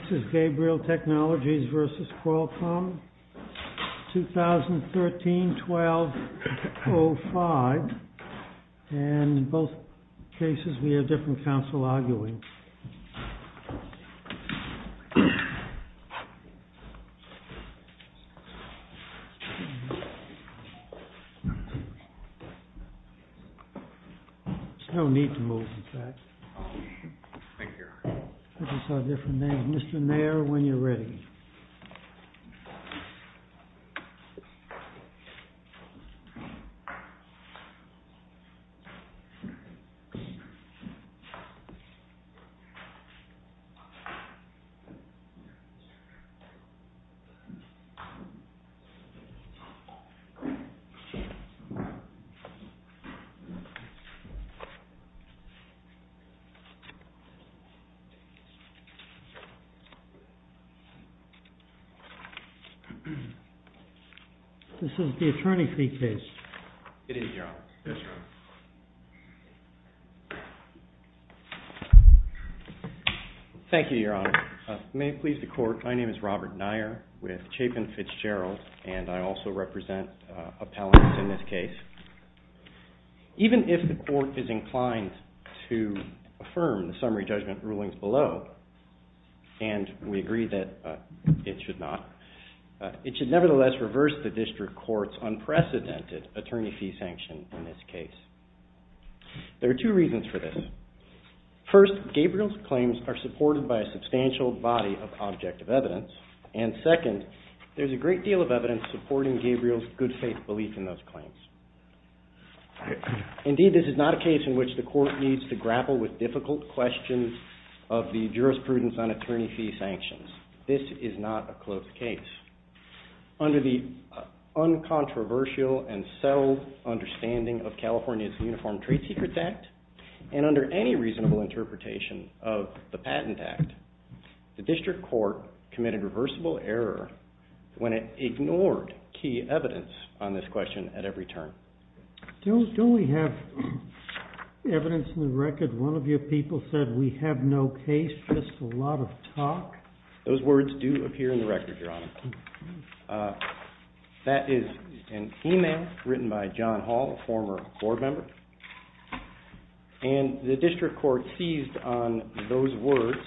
This is Gabriel Technologies v. Qualcomm, 2013-12-05 and in both cases we have different counsel arguing. There's no need to move, in fact. Thank you, Your Honor. This is a different name. Mr. Mayer, when you're ready. This is the attorney's briefcase. It is, Your Honor. Yes, Your Honor. Thank you, Your Honor. May it please the Court, my name is Robert Mayer with Chapin Fitzgerald and I also represent appellants in this case. Even if the Court is inclined to affirm the summary judgment rulings below and we agree that it should not, it should nevertheless reverse the District Court's unprecedented attorney fee sanction in this case. There are two reasons for this. First, Gabriel's claims are supported by a substantial body of objective evidence and second, there's a great deal of evidence supporting Gabriel's good faith belief in those claims. Indeed, this is not a case in which the Court needs to grapple with difficult questions of the jurisprudence on attorney fee sanctions. This is not a closed case. Under the uncontroversial and subtle understanding of California's Uniform Trade Secrets Act and under any reasonable interpretation of the Patent Act, the District Court committed reversible error when it ignored key evidence on this question at every turn. Don't we have evidence in the record? One of your people said we have no case, just a lot of talk. Those words do appear in the record, Your Honor. That is an email written by John Hall, a former board member, and the District Court seized on those words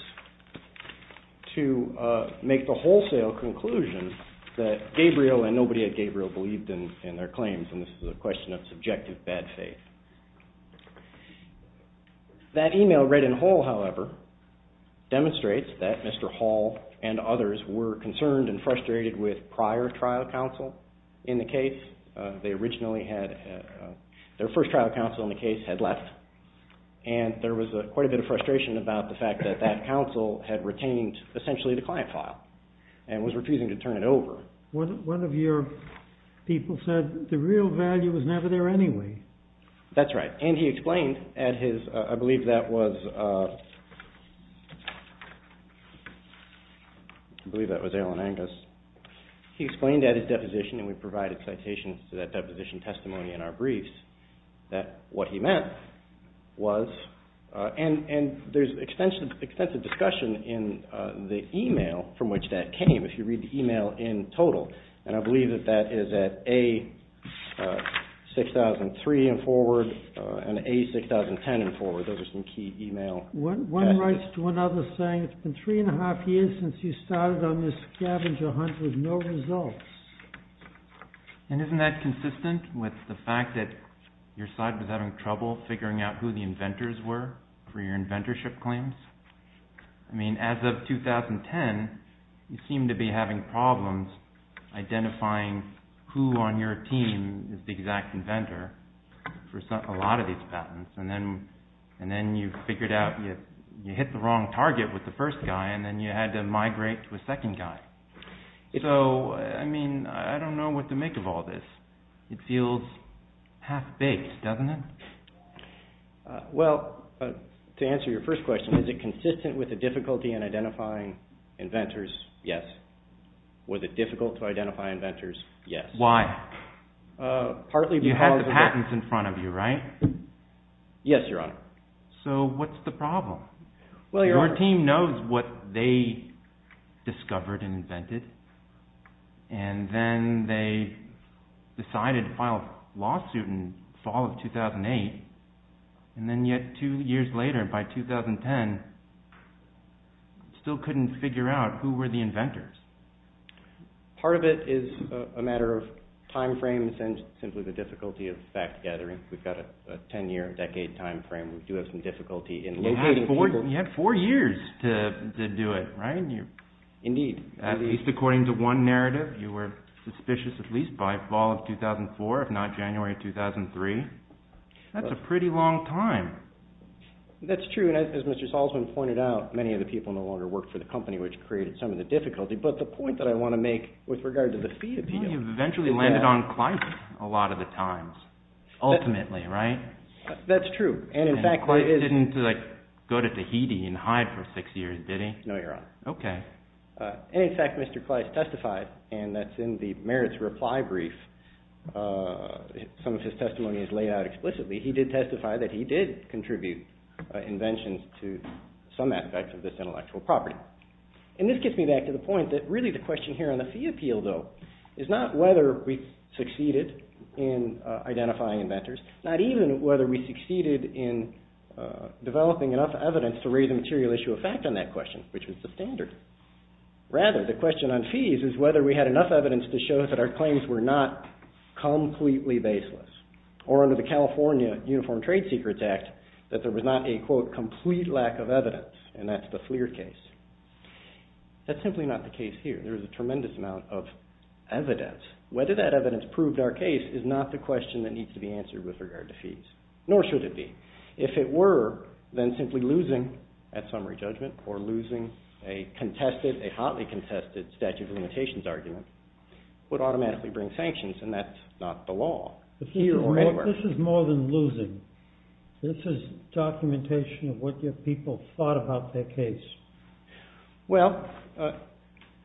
to make the wholesale conclusion that Gabriel and nobody at Gabriel believed in their claims and this is a question of subjective bad faith. That email read in whole, however, demonstrates that Mr. Hall and others were concerned and frustrated with prior trial counsel in the case. They originally had their first trial counsel in the case had left and there was quite a bit of frustration about the fact that that counsel had retained essentially the client file and was refusing to turn it over. One of your people said the real value was never there anyway. That's right, and he explained at his, I believe that was Allen Angus, he explained at his deposition, and we provided citations to that deposition testimony in our briefs, that what he meant was, and there's extensive discussion in the email from which that came, if you read the email in total, and I believe that that is at A6003 and forward and A6010 and forward, those are some key email. One writes to another saying it's been three and a half years since you started on this scavenger hunt with no results. And isn't that consistent with the fact that your side was having trouble figuring out who the inventors were for your inventorship claims? I mean, as of 2010, you seem to be having problems identifying who on your team is the exact inventor for a lot of these patents. And then you figured out you hit the wrong target with the first guy and then you had to migrate to a second guy. So, I mean, I don't know what to make of all this. It feels half-baked, doesn't it? Well, to answer your first question, is it consistent with the difficulty in identifying inventors? Yes. Was it difficult to identify inventors? Yes. Why? You had the patents in front of you, right? Yes, Your Honor. So what's the problem? Your team knows what they discovered and invented, and then they decided to file a lawsuit in the fall of 2008, and then yet two years later, by 2010, still couldn't figure out who were the inventors. Part of it is a matter of time frames and simply the difficulty of fact-gathering. We've got a ten-year, a decade time frame. We do have some difficulty in locating people. You had four years to do it, right? Indeed. At least according to one narrative, you were suspicious at least by fall of 2004, if not January of 2003. That's a pretty long time. That's true, and as Mr. Salzman pointed out, many of the people no longer worked for the company, which created some of the difficulty. But the point that I want to make with regard to the fee appeal is that… You eventually landed on Kleist a lot of the times, ultimately, right? That's true, and in fact what it is… And Kleist didn't go to Tahiti and hide for six years, did he? No, Your Honor. Okay. And in fact, Mr. Kleist testified, and that's in the merits reply brief. Some of his testimony is laid out explicitly. He did testify that he did contribute inventions to some aspects of this intellectual property. And this gets me back to the point that really the question here on the fee appeal, though, is not whether we succeeded in identifying inventors, not even whether we succeeded in developing enough evidence to raise a material issue of fact on that question, which was the standard. Rather, the question on fees is whether we had enough evidence to show that our claims were not completely baseless, or under the California Uniform Trade Secrets Act, that there was not a, quote, complete lack of evidence, and that's the FLIR case. That's simply not the case here. There is a tremendous amount of evidence. Whether that evidence proved our case is not the question that needs to be answered with regard to fees, nor should it be. If it were, then simply losing that summary judgment or losing a contested, a hotly contested statute of limitations argument would automatically bring sanctions, and that's not the law here or anywhere. This is more than losing. This is documentation of what your people thought about their case. Well,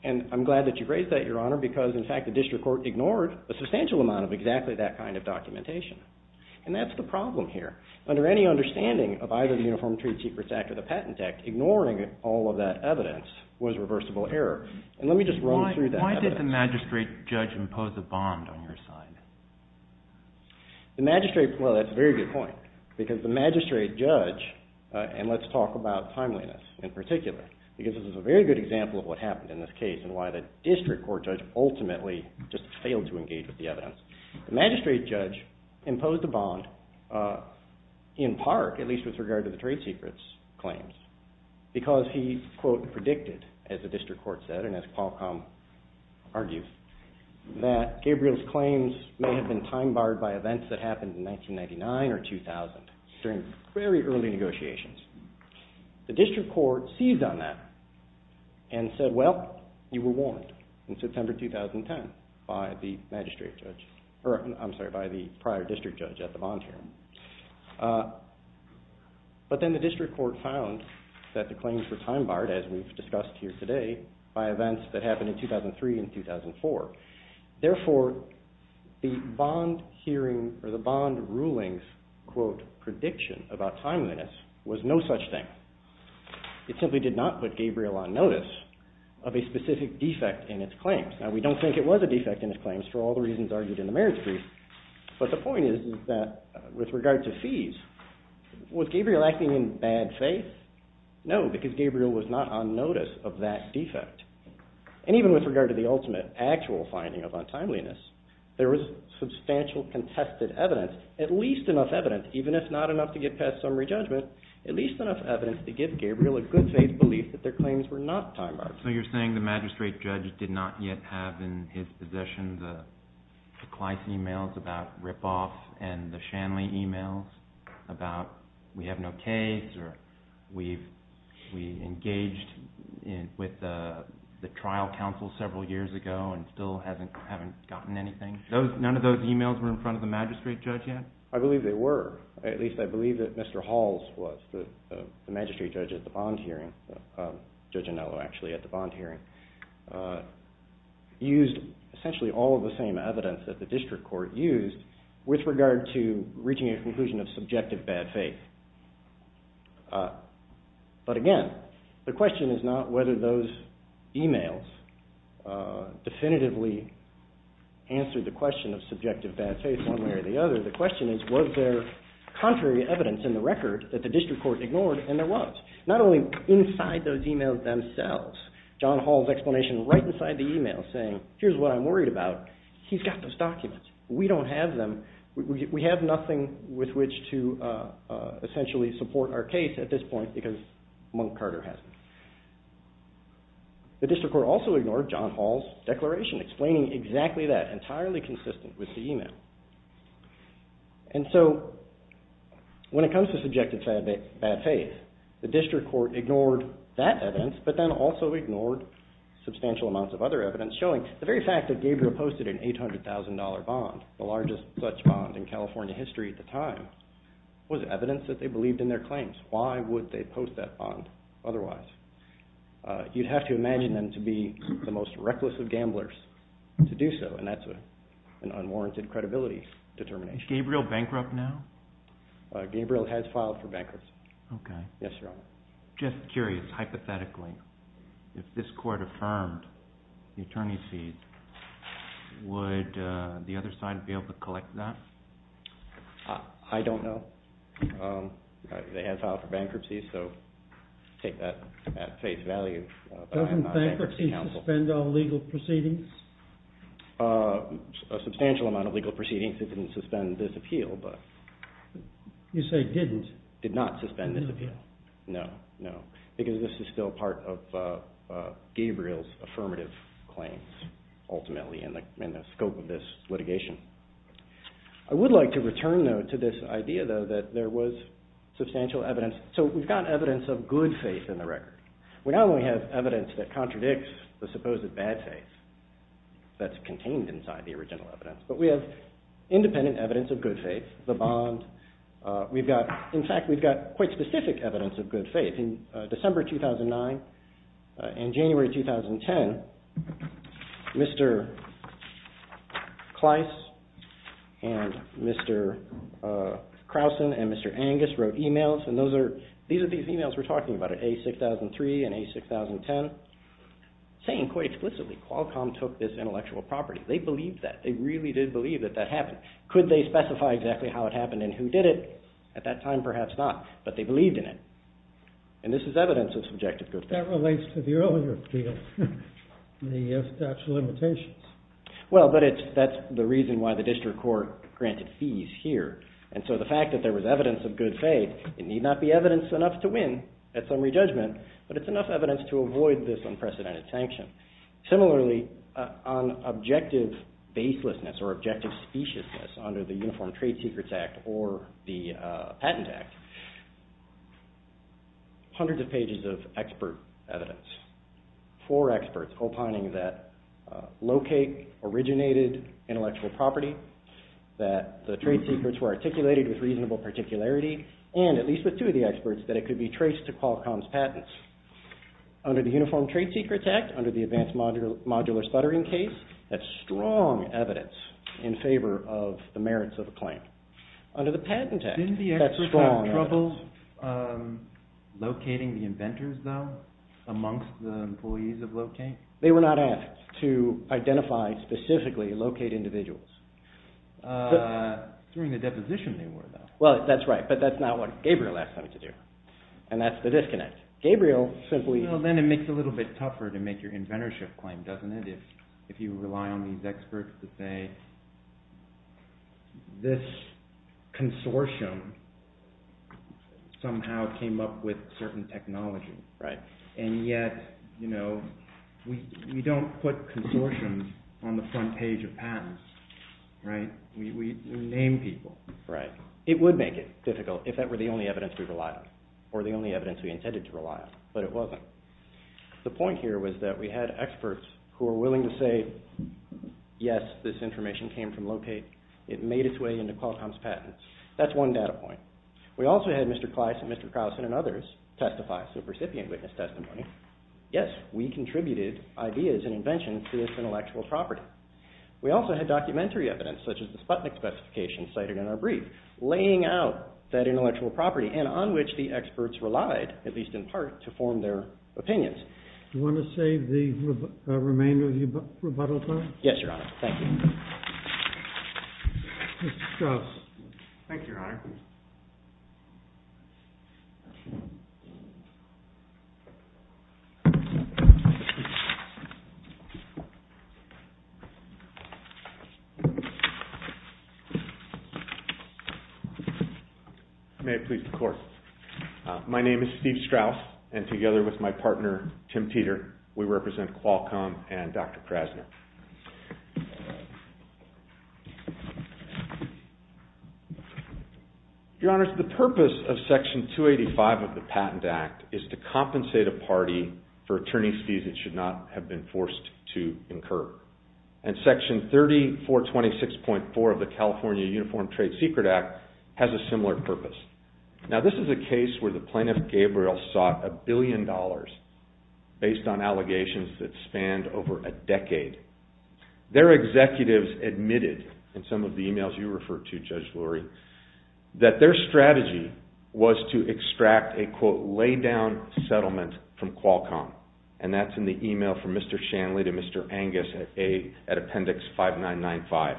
and I'm glad that you raised that, Your Honor, because in fact the district court ignored a substantial amount of exactly that kind of documentation, and that's the problem here. Under any understanding of either the Uniform Trade Secrets Act or the Patent Act, ignoring all of that evidence was reversible error, and let me just run through that evidence. Why did the magistrate judge impose a bond on your side? The magistrate, well, that's a very good point, because the magistrate judge, and let's talk about timeliness in particular, because this is a very good example of what happened in this case and why the district court judge ultimately just failed to engage with the evidence. The magistrate judge imposed a bond in part, at least with regard to the trade secrets claims, because he, quote, predicted, as the district court said, and as Paul Combe argues, that Gabriel's claims may have been time-barred by events that happened in 1999 or 2000 during very early negotiations. The district court seized on that and said, well, you were warned in September 2010 by the magistrate judge, or I'm sorry, by the prior district judge at the bond hearing. But then the district court found that the claims were time-barred, as we've discussed here today, by events that happened in 2003 and 2004. Therefore, the bond hearing, or the bond ruling's, quote, prediction about timeliness was no such thing. It simply did not put Gabriel on notice of a specific defect in his claims. Now, we don't think it was a defect in his claims for all the reasons argued in the marriage brief, but the point is that with regard to fees, was Gabriel acting in bad faith? No, because Gabriel was not on notice of that defect. And even with regard to the ultimate actual finding of untimeliness, there was substantial contested evidence, at least enough evidence, even if not enough to get past summary judgment, at least enough evidence to give Gabriel a good faith belief that their claims were not time-barred. So you're saying the magistrate judge did not yet have in his possession the Kleiss emails about rip-off and the Shanley emails about we have no case or we engaged with the trial counsel several years ago and still haven't gotten anything? None of those emails were in front of the magistrate judge yet? I believe they were. At least I believe that Mr. Halls was, the magistrate judge at the bond hearing, Judge Anello actually at the bond hearing, used essentially all of the same evidence that the district court used with regard to reaching a conclusion of subjective bad faith. But again, the question is not whether those emails definitively answered the question of subjective bad faith one way or the other. The question is was there contrary evidence in the record that the district court ignored and there was. Not only inside those emails themselves, John Hall's explanation right inside the email saying here's what I'm worried about, he's got those documents, we don't have them, we have nothing with which to essentially support our case at this point because Monk Carter hasn't. The district court also ignored John Hall's declaration explaining exactly that, entirely consistent with the email. And so when it comes to subjective bad faith, the district court ignored that evidence but then also ignored substantial amounts of other evidence showing the very fact that Gabriel posted an $800,000 bond, the largest such bond in California history at the time, was evidence that they believed in their claims. Why would they post that bond otherwise? You'd have to imagine them to be the most reckless of gamblers to do so and that's an unwarranted credibility determination. Is Gabriel bankrupt now? Gabriel has filed for bankruptcy. Okay. Yes, Your Honor. Just curious, hypothetically, if this court affirmed the attorney's fees, would the other side be able to collect that? I don't know. They have filed for bankruptcy, so take that at face value. Doesn't bankruptcy suspend all legal proceedings? A substantial amount of legal proceedings didn't suspend this appeal. You say didn't? Did not suspend this appeal. No, no. Because this is still part of Gabriel's affirmative claims, ultimately, in the scope of this litigation. I would like to return, though, to this idea, though, that there was substantial evidence. So we've got evidence of good faith in the record. We not only have evidence that contradicts the supposed bad faith that's contained inside the original evidence, but we have independent evidence of good faith, the bond. In fact, we've got quite specific evidence of good faith. In December 2009 and January 2010, Mr. Kleiss and Mr. Krausen and Mr. Angus wrote e-mails, and these are the e-mails we're talking about, A6003 and A6010, saying quite explicitly, Qualcomm took this intellectual property. They believed that. They really did believe that that happened. Could they specify exactly how it happened and who did it? At that time, perhaps not, but they believed in it. And this is evidence of subjective good faith. But that relates to the earlier appeal, the statute of limitations. Well, but that's the reason why the district court granted fees here. And so the fact that there was evidence of good faith, it need not be evidence enough to win at summary judgment, but it's enough evidence to avoid this unprecedented sanction. Similarly, on objective baselessness or objective speciousness under the Uniform Trade Secrets Act or the Patent Act, hundreds of pages of expert evidence. Four experts opining that locate originated intellectual property, that the trade secrets were articulated with reasonable particularity, and at least with two of the experts, that it could be traced to Qualcomm's patents. Under the Uniform Trade Secrets Act, under the Advanced Modular Stuttering case, that's strong evidence in favor of the merits of a claim. Under the Patent Act, that's strong evidence. Didn't the experts have trouble locating the inventors, though, amongst the employees of locate? They were not asked to identify specifically locate individuals. During the deposition they were, though. Well, that's right, but that's not what Gabriel asked them to do. And that's the disconnect. Gabriel simply... Well, then it makes it a little bit tougher to make your inventorship claim, doesn't it, if you rely on these experts to say, this consortium somehow came up with certain technology. Right. And yet, you know, we don't put consortiums on the front page of patents, right? We name people. Right. It would make it difficult if that were the only evidence we relied on, or the only evidence we intended to rely on, but it wasn't. The point here was that we had experts who were willing to say, yes, this information came from locate. It made its way into Qualcomm's patents. That's one data point. We also had Mr. Clice and Mr. Carlson and others testify, so recipient witness testimony. Yes, we contributed ideas and inventions to this intellectual property. We also had documentary evidence, such as the Sputnik specification cited in our brief, laying out that intellectual property, and on which the experts relied, at least in part, to form their opinions. You want to save the remainder of the rebuttal time? Yes, Your Honor. Thank you. Mr. Strauss. Thank you, Your Honor. May it please the Court. My name is Steve Strauss, and together with my partner, Tim Teeter, we represent Qualcomm and Dr. Krasner. Your Honor, the purpose of Section 285 of the Patent Act is to compensate a party for attorney's fees that should not have been forced to incur. And Section 3426.4 of the California Uniform Trade Secret Act has a similar purpose. Now, this is a case where the plaintiff, Gabriel, sought a billion dollars, based on allegations that spanned over a decade. Their executives admitted, in some of the emails you referred to, Judge Lurie, that their strategy was to extract a, quote, lay-down settlement from Qualcomm. And that's in the email from Mr. Shanley to Mr. Angus at Appendix 5995.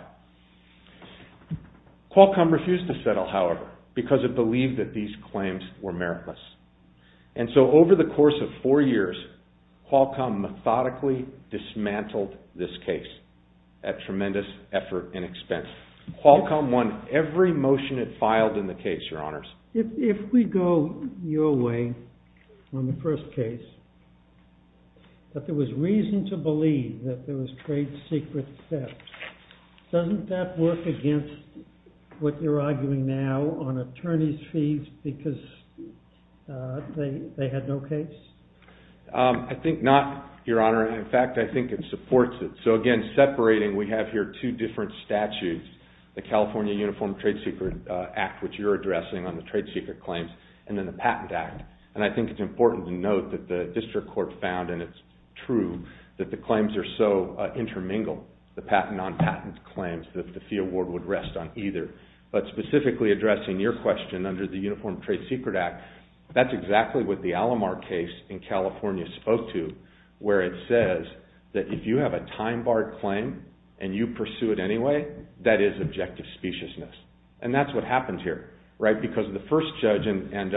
Qualcomm refused to settle, however, because it believed that these claims were meritless. And so over the course of four years, Qualcomm methodically dismantled this case at tremendous effort and expense. Qualcomm won every motion it filed in the case, Your Honors. If we go your way, on the first case, that there was reason to believe that there was trade secret theft, doesn't that work against what you're arguing now on attorneys' fees because they had no case? I think not, Your Honor. In fact, I think it supports it. So again, separating, we have here two different statutes, the California Uniform Trade Secret Act, which you're addressing on the trade secret claims, and then the Patent Act. And I think it's important to note that the district court found, and it's true, that the claims are so intermingled, the patent on patent claims, that the fee award would rest on either. But specifically addressing your question under the Uniform Trade Secret Act, that's exactly what the Alomar case in California spoke to, where it says that if you have a time-barred claim and you pursue it anyway, that is objective speciousness. And that's what happened here, right? Because the first judge, and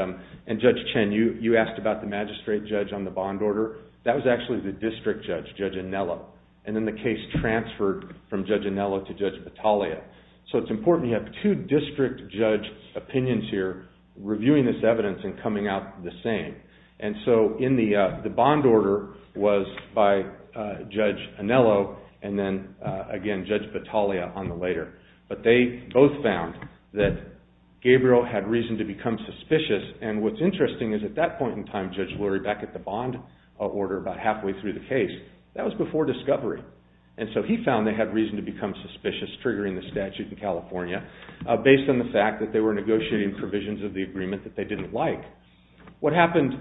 Judge Chen, you asked about the magistrate judge on the bond order. That was actually the district judge, Judge Anello. And then the case transferred from Judge Anello to Judge Battaglia. So it's important, you have two district judge opinions here, reviewing this evidence and coming out the same. And so the bond order was by Judge Anello, and then again, Judge Battaglia on the later. But they both found that Gabriel had reason to become suspicious, and what's interesting is at that point in time, Judge Lurie, back at the bond order, about halfway through the case, that was before discovery. And so he found they had reason to become suspicious, triggering the statute in California, based on the fact that they were negotiating provisions of the agreement that they didn't like. What happened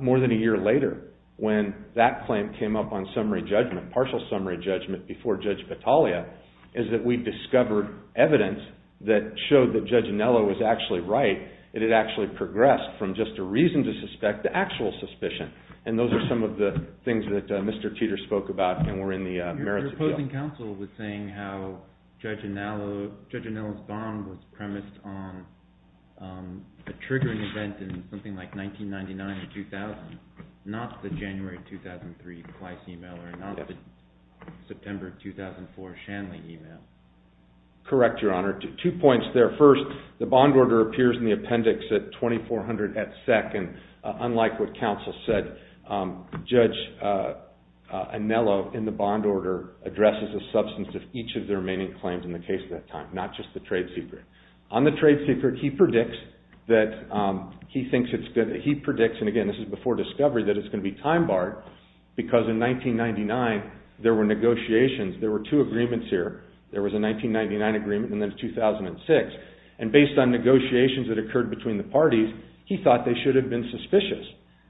more than a year later, when that claim came up on summary judgment, partial summary judgment before Judge Battaglia, is that we discovered evidence that showed that Judge Anello was actually right. It had actually progressed from just a reason to suspect to actual suspicion. And those are some of the things that Mr. Teeter spoke about, and were in the merits appeal. Your opposing counsel was saying how Judge Anello's bond was premised on a triggering event in something like 1999 or 2000, not the January 2003 Weiss email, or not the September 2004 Shanley email. Correct, Your Honor. Two points there. First, the bond order appears in the appendix at 2400 at sec, and unlike what counsel said, Judge Anello, in the bond order, addresses the substance of each of the remaining claims in the case at that time, not just the trade secret. On the trade secret, he predicts that he thinks it's good, he predicts, and again this is before discovery, that it's going to be time barred, because in 1999 there were negotiations, there were two agreements here, there was a 1999 agreement and then 2006, and based on negotiations that occurred between the parties, he thought they should have been suspicious.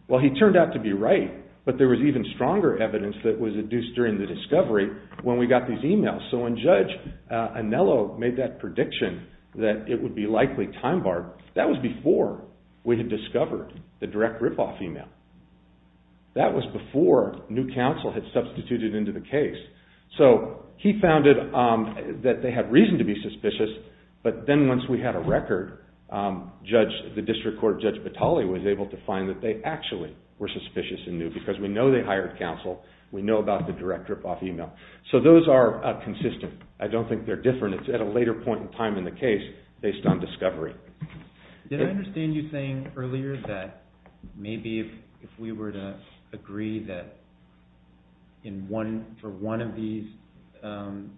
Well, he turned out to be right, but there was even stronger evidence that was induced during the discovery when we got these emails. So when Judge Anello made that prediction that it would be likely time barred, that was before we had discovered the direct rip-off email. That was before new counsel had substituted into the case. So he found that they had reason to be suspicious, but then once we had a record, the District Court Judge Batali was able to find that they actually were suspicious because we know they hired counsel, we know about the direct rip-off email. So those are consistent. I don't think they're different. It's at a later point in time in the case based on discovery. Did I understand you saying earlier that maybe if we were to agree that for one of these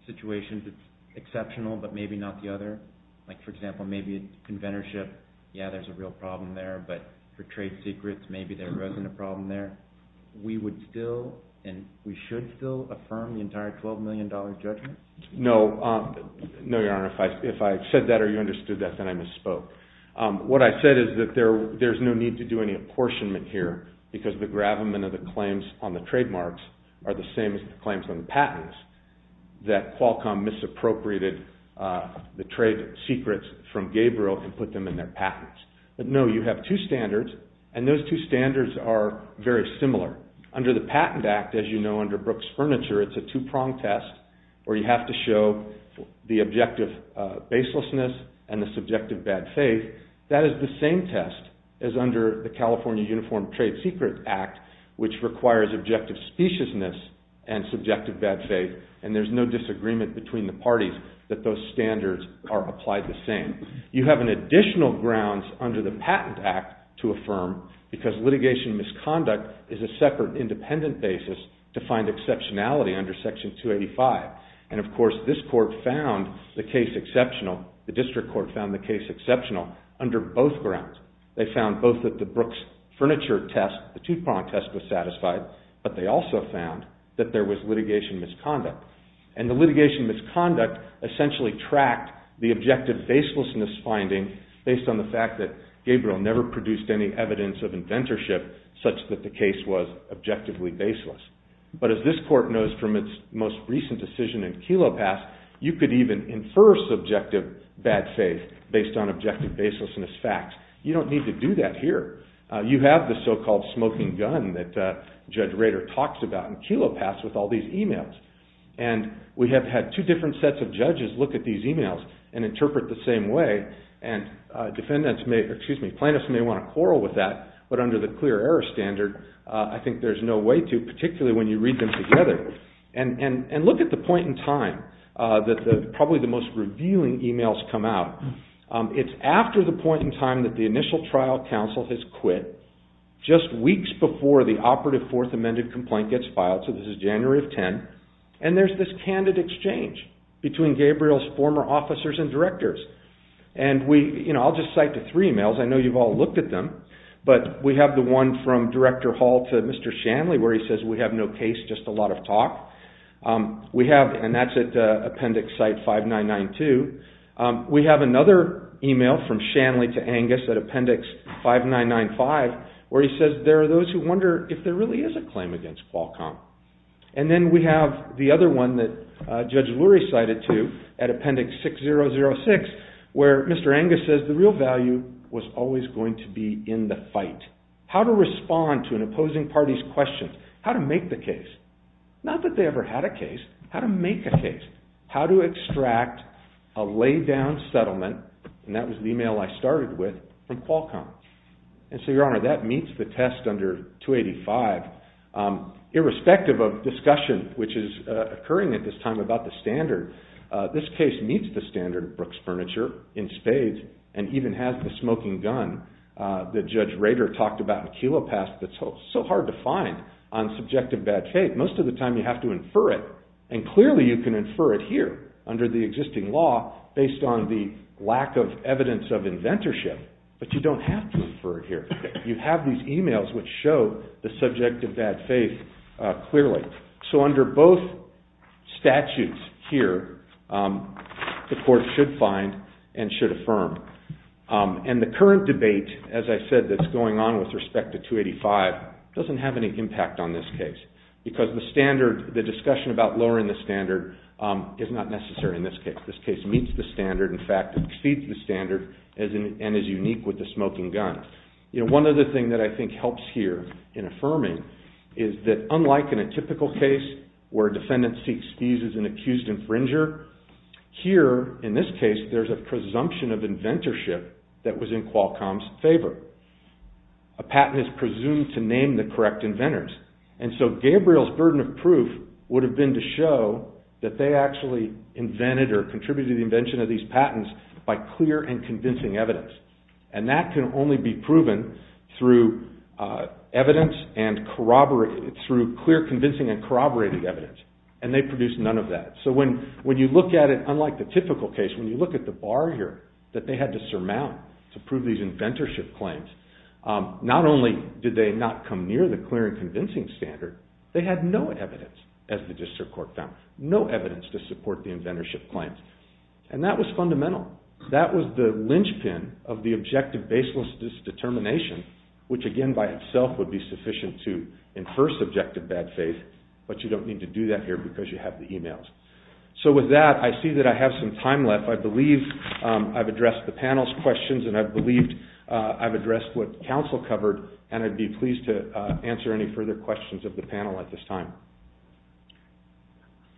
situations it's exceptional but maybe not the other? Like, for example, maybe it's conventorship. Yeah, there's a real problem there, but for trade secrets maybe there wasn't a problem there. We would still and we should still affirm the entire $12 million judgment? No, Your Honor. If I said that or you understood that, then I misspoke. What I said is that there's no need to do any apportionment here because the gravamen of the claims on the trademarks are the same as the claims on the patents that Qualcomm misappropriated the trade secrets from Gabriel and put them in their patents. But no, you have two standards, and those two standards are very similar. Under the Patent Act, as you know, under Brooks Furniture, it's a two-prong test where you have to show the objective baselessness and the subjective bad faith. That is the same test as under the California Uniform Trade Secret Act, which requires objective speciousness and subjective bad faith, and there's no disagreement between the parties that those standards are applied the same. You have additional grounds under the Patent Act to affirm because litigation misconduct is a separate independent basis to find exceptionality under Section 285. And, of course, this court found the case exceptional, the district court found the case exceptional under both grounds. They found both that the Brooks Furniture test, the two-prong test, was satisfied, but they also found that there was litigation misconduct. And the litigation misconduct essentially tracked the objective baselessness finding based on the fact that Gabriel never produced any evidence of inventorship such that the case was objectively baseless. But as this court knows from its most recent decision in Kelo Pass, you could even infer subjective bad faith based on objective baselessness facts. You don't need to do that here. You have the so-called smoking gun that Judge Rader talks about in Kelo Pass with all these emails. And we have had two different sets of judges look at these emails and interpret the same way, and plaintiffs may want to quarrel with that, but under the clear error standard, I think there's no way to, particularly when you read them together. And look at the point in time that probably the most revealing emails come out. It's after the point in time that the initial trial counsel has quit, just weeks before the operative fourth amended complaint gets filed, so this is January of 2010, and there's this candid exchange between Gabriel's former officers and directors. And I'll just cite the three emails. I know you've all looked at them, but we have the one from Director Hall to Mr. Shanley where he says we have no case, just a lot of talk. We have, and that's at appendix site 5992, we have another email from Shanley to Angus at appendix 5995 where he says there are those who wonder if there really is a claim against Qualcomm. And then we have the other one that Judge Lurie cited to at appendix 6006 where Mr. Angus says the real value was always going to be in the fight. How to respond to an opposing party's questions. How to make the case. Not that they ever had a case. How to make a case. How to extract a laid-down settlement, and that was the email I started with, from Qualcomm. And so, Your Honor, that meets the test under 285. Irrespective of discussion which is occurring at this time about the standard, this case meets the standard of Brooks Furniture in spades and even has the smoking gun that Judge Rader talked about in Kelo Pass that's so hard to find on subjective badge hate. Most of the time you have to infer it, and clearly you can infer it here under the existing law based on the lack of evidence of inventorship, but you don't have to infer it here. You have these emails which show the subjective badge faith clearly. So under both statutes here, the court should find and should affirm. And the current debate, as I said, that's going on with respect to 285 doesn't have any impact on this case, because the discussion about lowering the standard is not necessary in this case. This case meets the standard, in fact, exceeds the standard and is unique with the smoking gun. One other thing that I think helps here in affirming is that unlike in a typical case where a defendant seeks fees as an accused infringer, here, in this case, there's a presumption of inventorship that was in Qualcomm's favor. A patent is presumed to name the correct inventors. And so Gabriel's burden of proof would have been to show that they actually invented or contributed to the invention of these patents by clear and convincing evidence. And that can only be proven through clear, convincing, and corroborating evidence. And they produced none of that. So when you look at it unlike the typical case, when you look at the bar here that they had to surmount to prove these inventorship claims, not only did they not come near the clear and convincing standard, they had no evidence, as the district court found, no evidence to support the inventorship claims. And that was fundamental. That was the linchpin of the objective baseless determination, which again by itself would be sufficient to infer subjective bad faith, but you don't need to do that here because you have the emails. So with that, I see that I have some time left. I believe I've addressed the panel's questions and I believe I've addressed what counsel covered and I'd be pleased to answer any further questions of the panel at this time.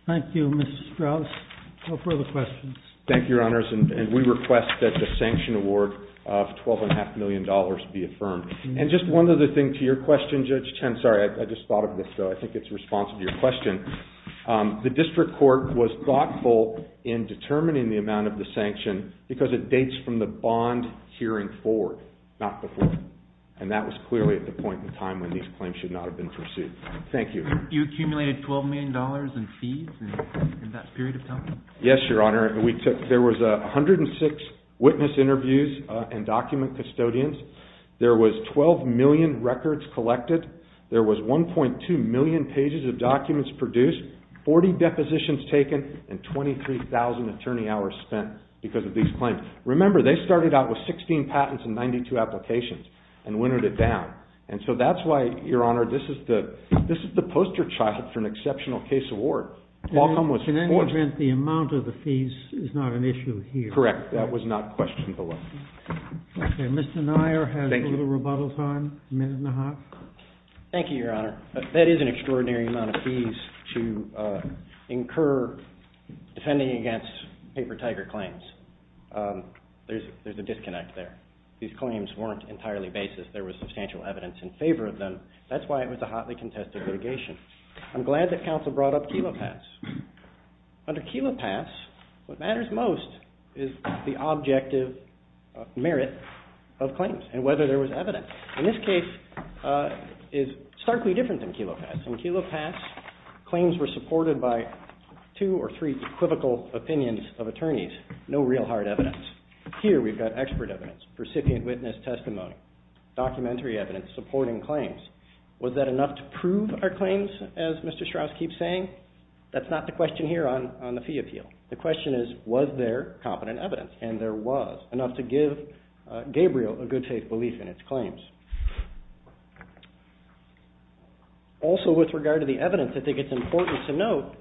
Thank you, Mr. Strauss. No further questions. Thank you, Your Honors, and we request that the sanction award of $12.5 million be affirmed. And just one other thing to your question, Judge Chen. Sorry, I just thought of this, though. I think it's responsive to your question. The district court was thoughtful in determining the amount of the sanction because it dates from the bond hearing forward, not before. And that was clearly at the point in time when these claims should not have been pursued. Thank you. You accumulated $12 million in fees in that period of time? Yes, Your Honor. There was 106 witness interviews and document custodians. There was 12 million records collected. There was 1.2 million pages of documents produced, 40 depositions taken, and 23,000 attorney hours spent because of these claims. Remember, they started out with 16 patents and 92 applications and winnered it down. And so that's why, Your Honor, this is the poster child for an exceptional case award. Can I just add that the amount of the fees is not an issue here? Correct. That was not questioned below. Okay. Mr. Nyer has a little rebuttal time, a minute and a half. Thank you, Your Honor. That is an extraordinary amount of fees to incur defending against Paper Tiger claims. There's a disconnect there. These claims weren't entirely basis. There was substantial evidence in favor of them. That's why it was a hotly contested litigation. I'm glad that counsel brought up Kela Pass. Under Kela Pass, what matters most is the objective merit of claims and whether there was evidence. In this case, it's starkly different than Kela Pass. In Kela Pass, claims were supported by two or three equivocal opinions of attorneys, no real hard evidence. Here we've got expert evidence, recipient witness testimony, documentary evidence supporting claims. Was that enough to prove our claims, as Mr. Strauss keeps saying? That's not the question here on the fee appeal. The question is, was there competent evidence? And there was, enough to give Gabriel a good faith belief in its claims. Also, with regard to the evidence, I think it's important to note,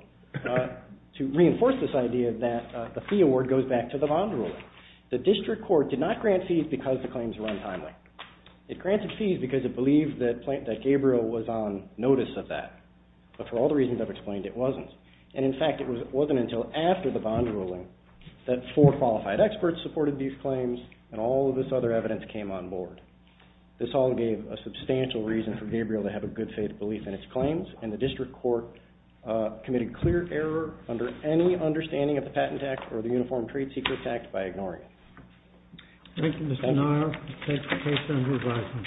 to reinforce this idea that the fee award goes back to the bond ruling. The district court did not grant fees because the claims were untimely. It granted fees because it believed that Gabriel was on notice of that. But for all the reasons I've explained, it wasn't. And, in fact, it wasn't until after the bond ruling that four qualified experts supported these claims and all of this other evidence came on board. This all gave a substantial reason for Gabriel to have a good faith belief in its claims, and the district court committed clear error under any understanding of the Patent Act or the Uniform Trade Secrets Act by ignoring it. Thank you, Mr. Neier. Let's take the case under revising.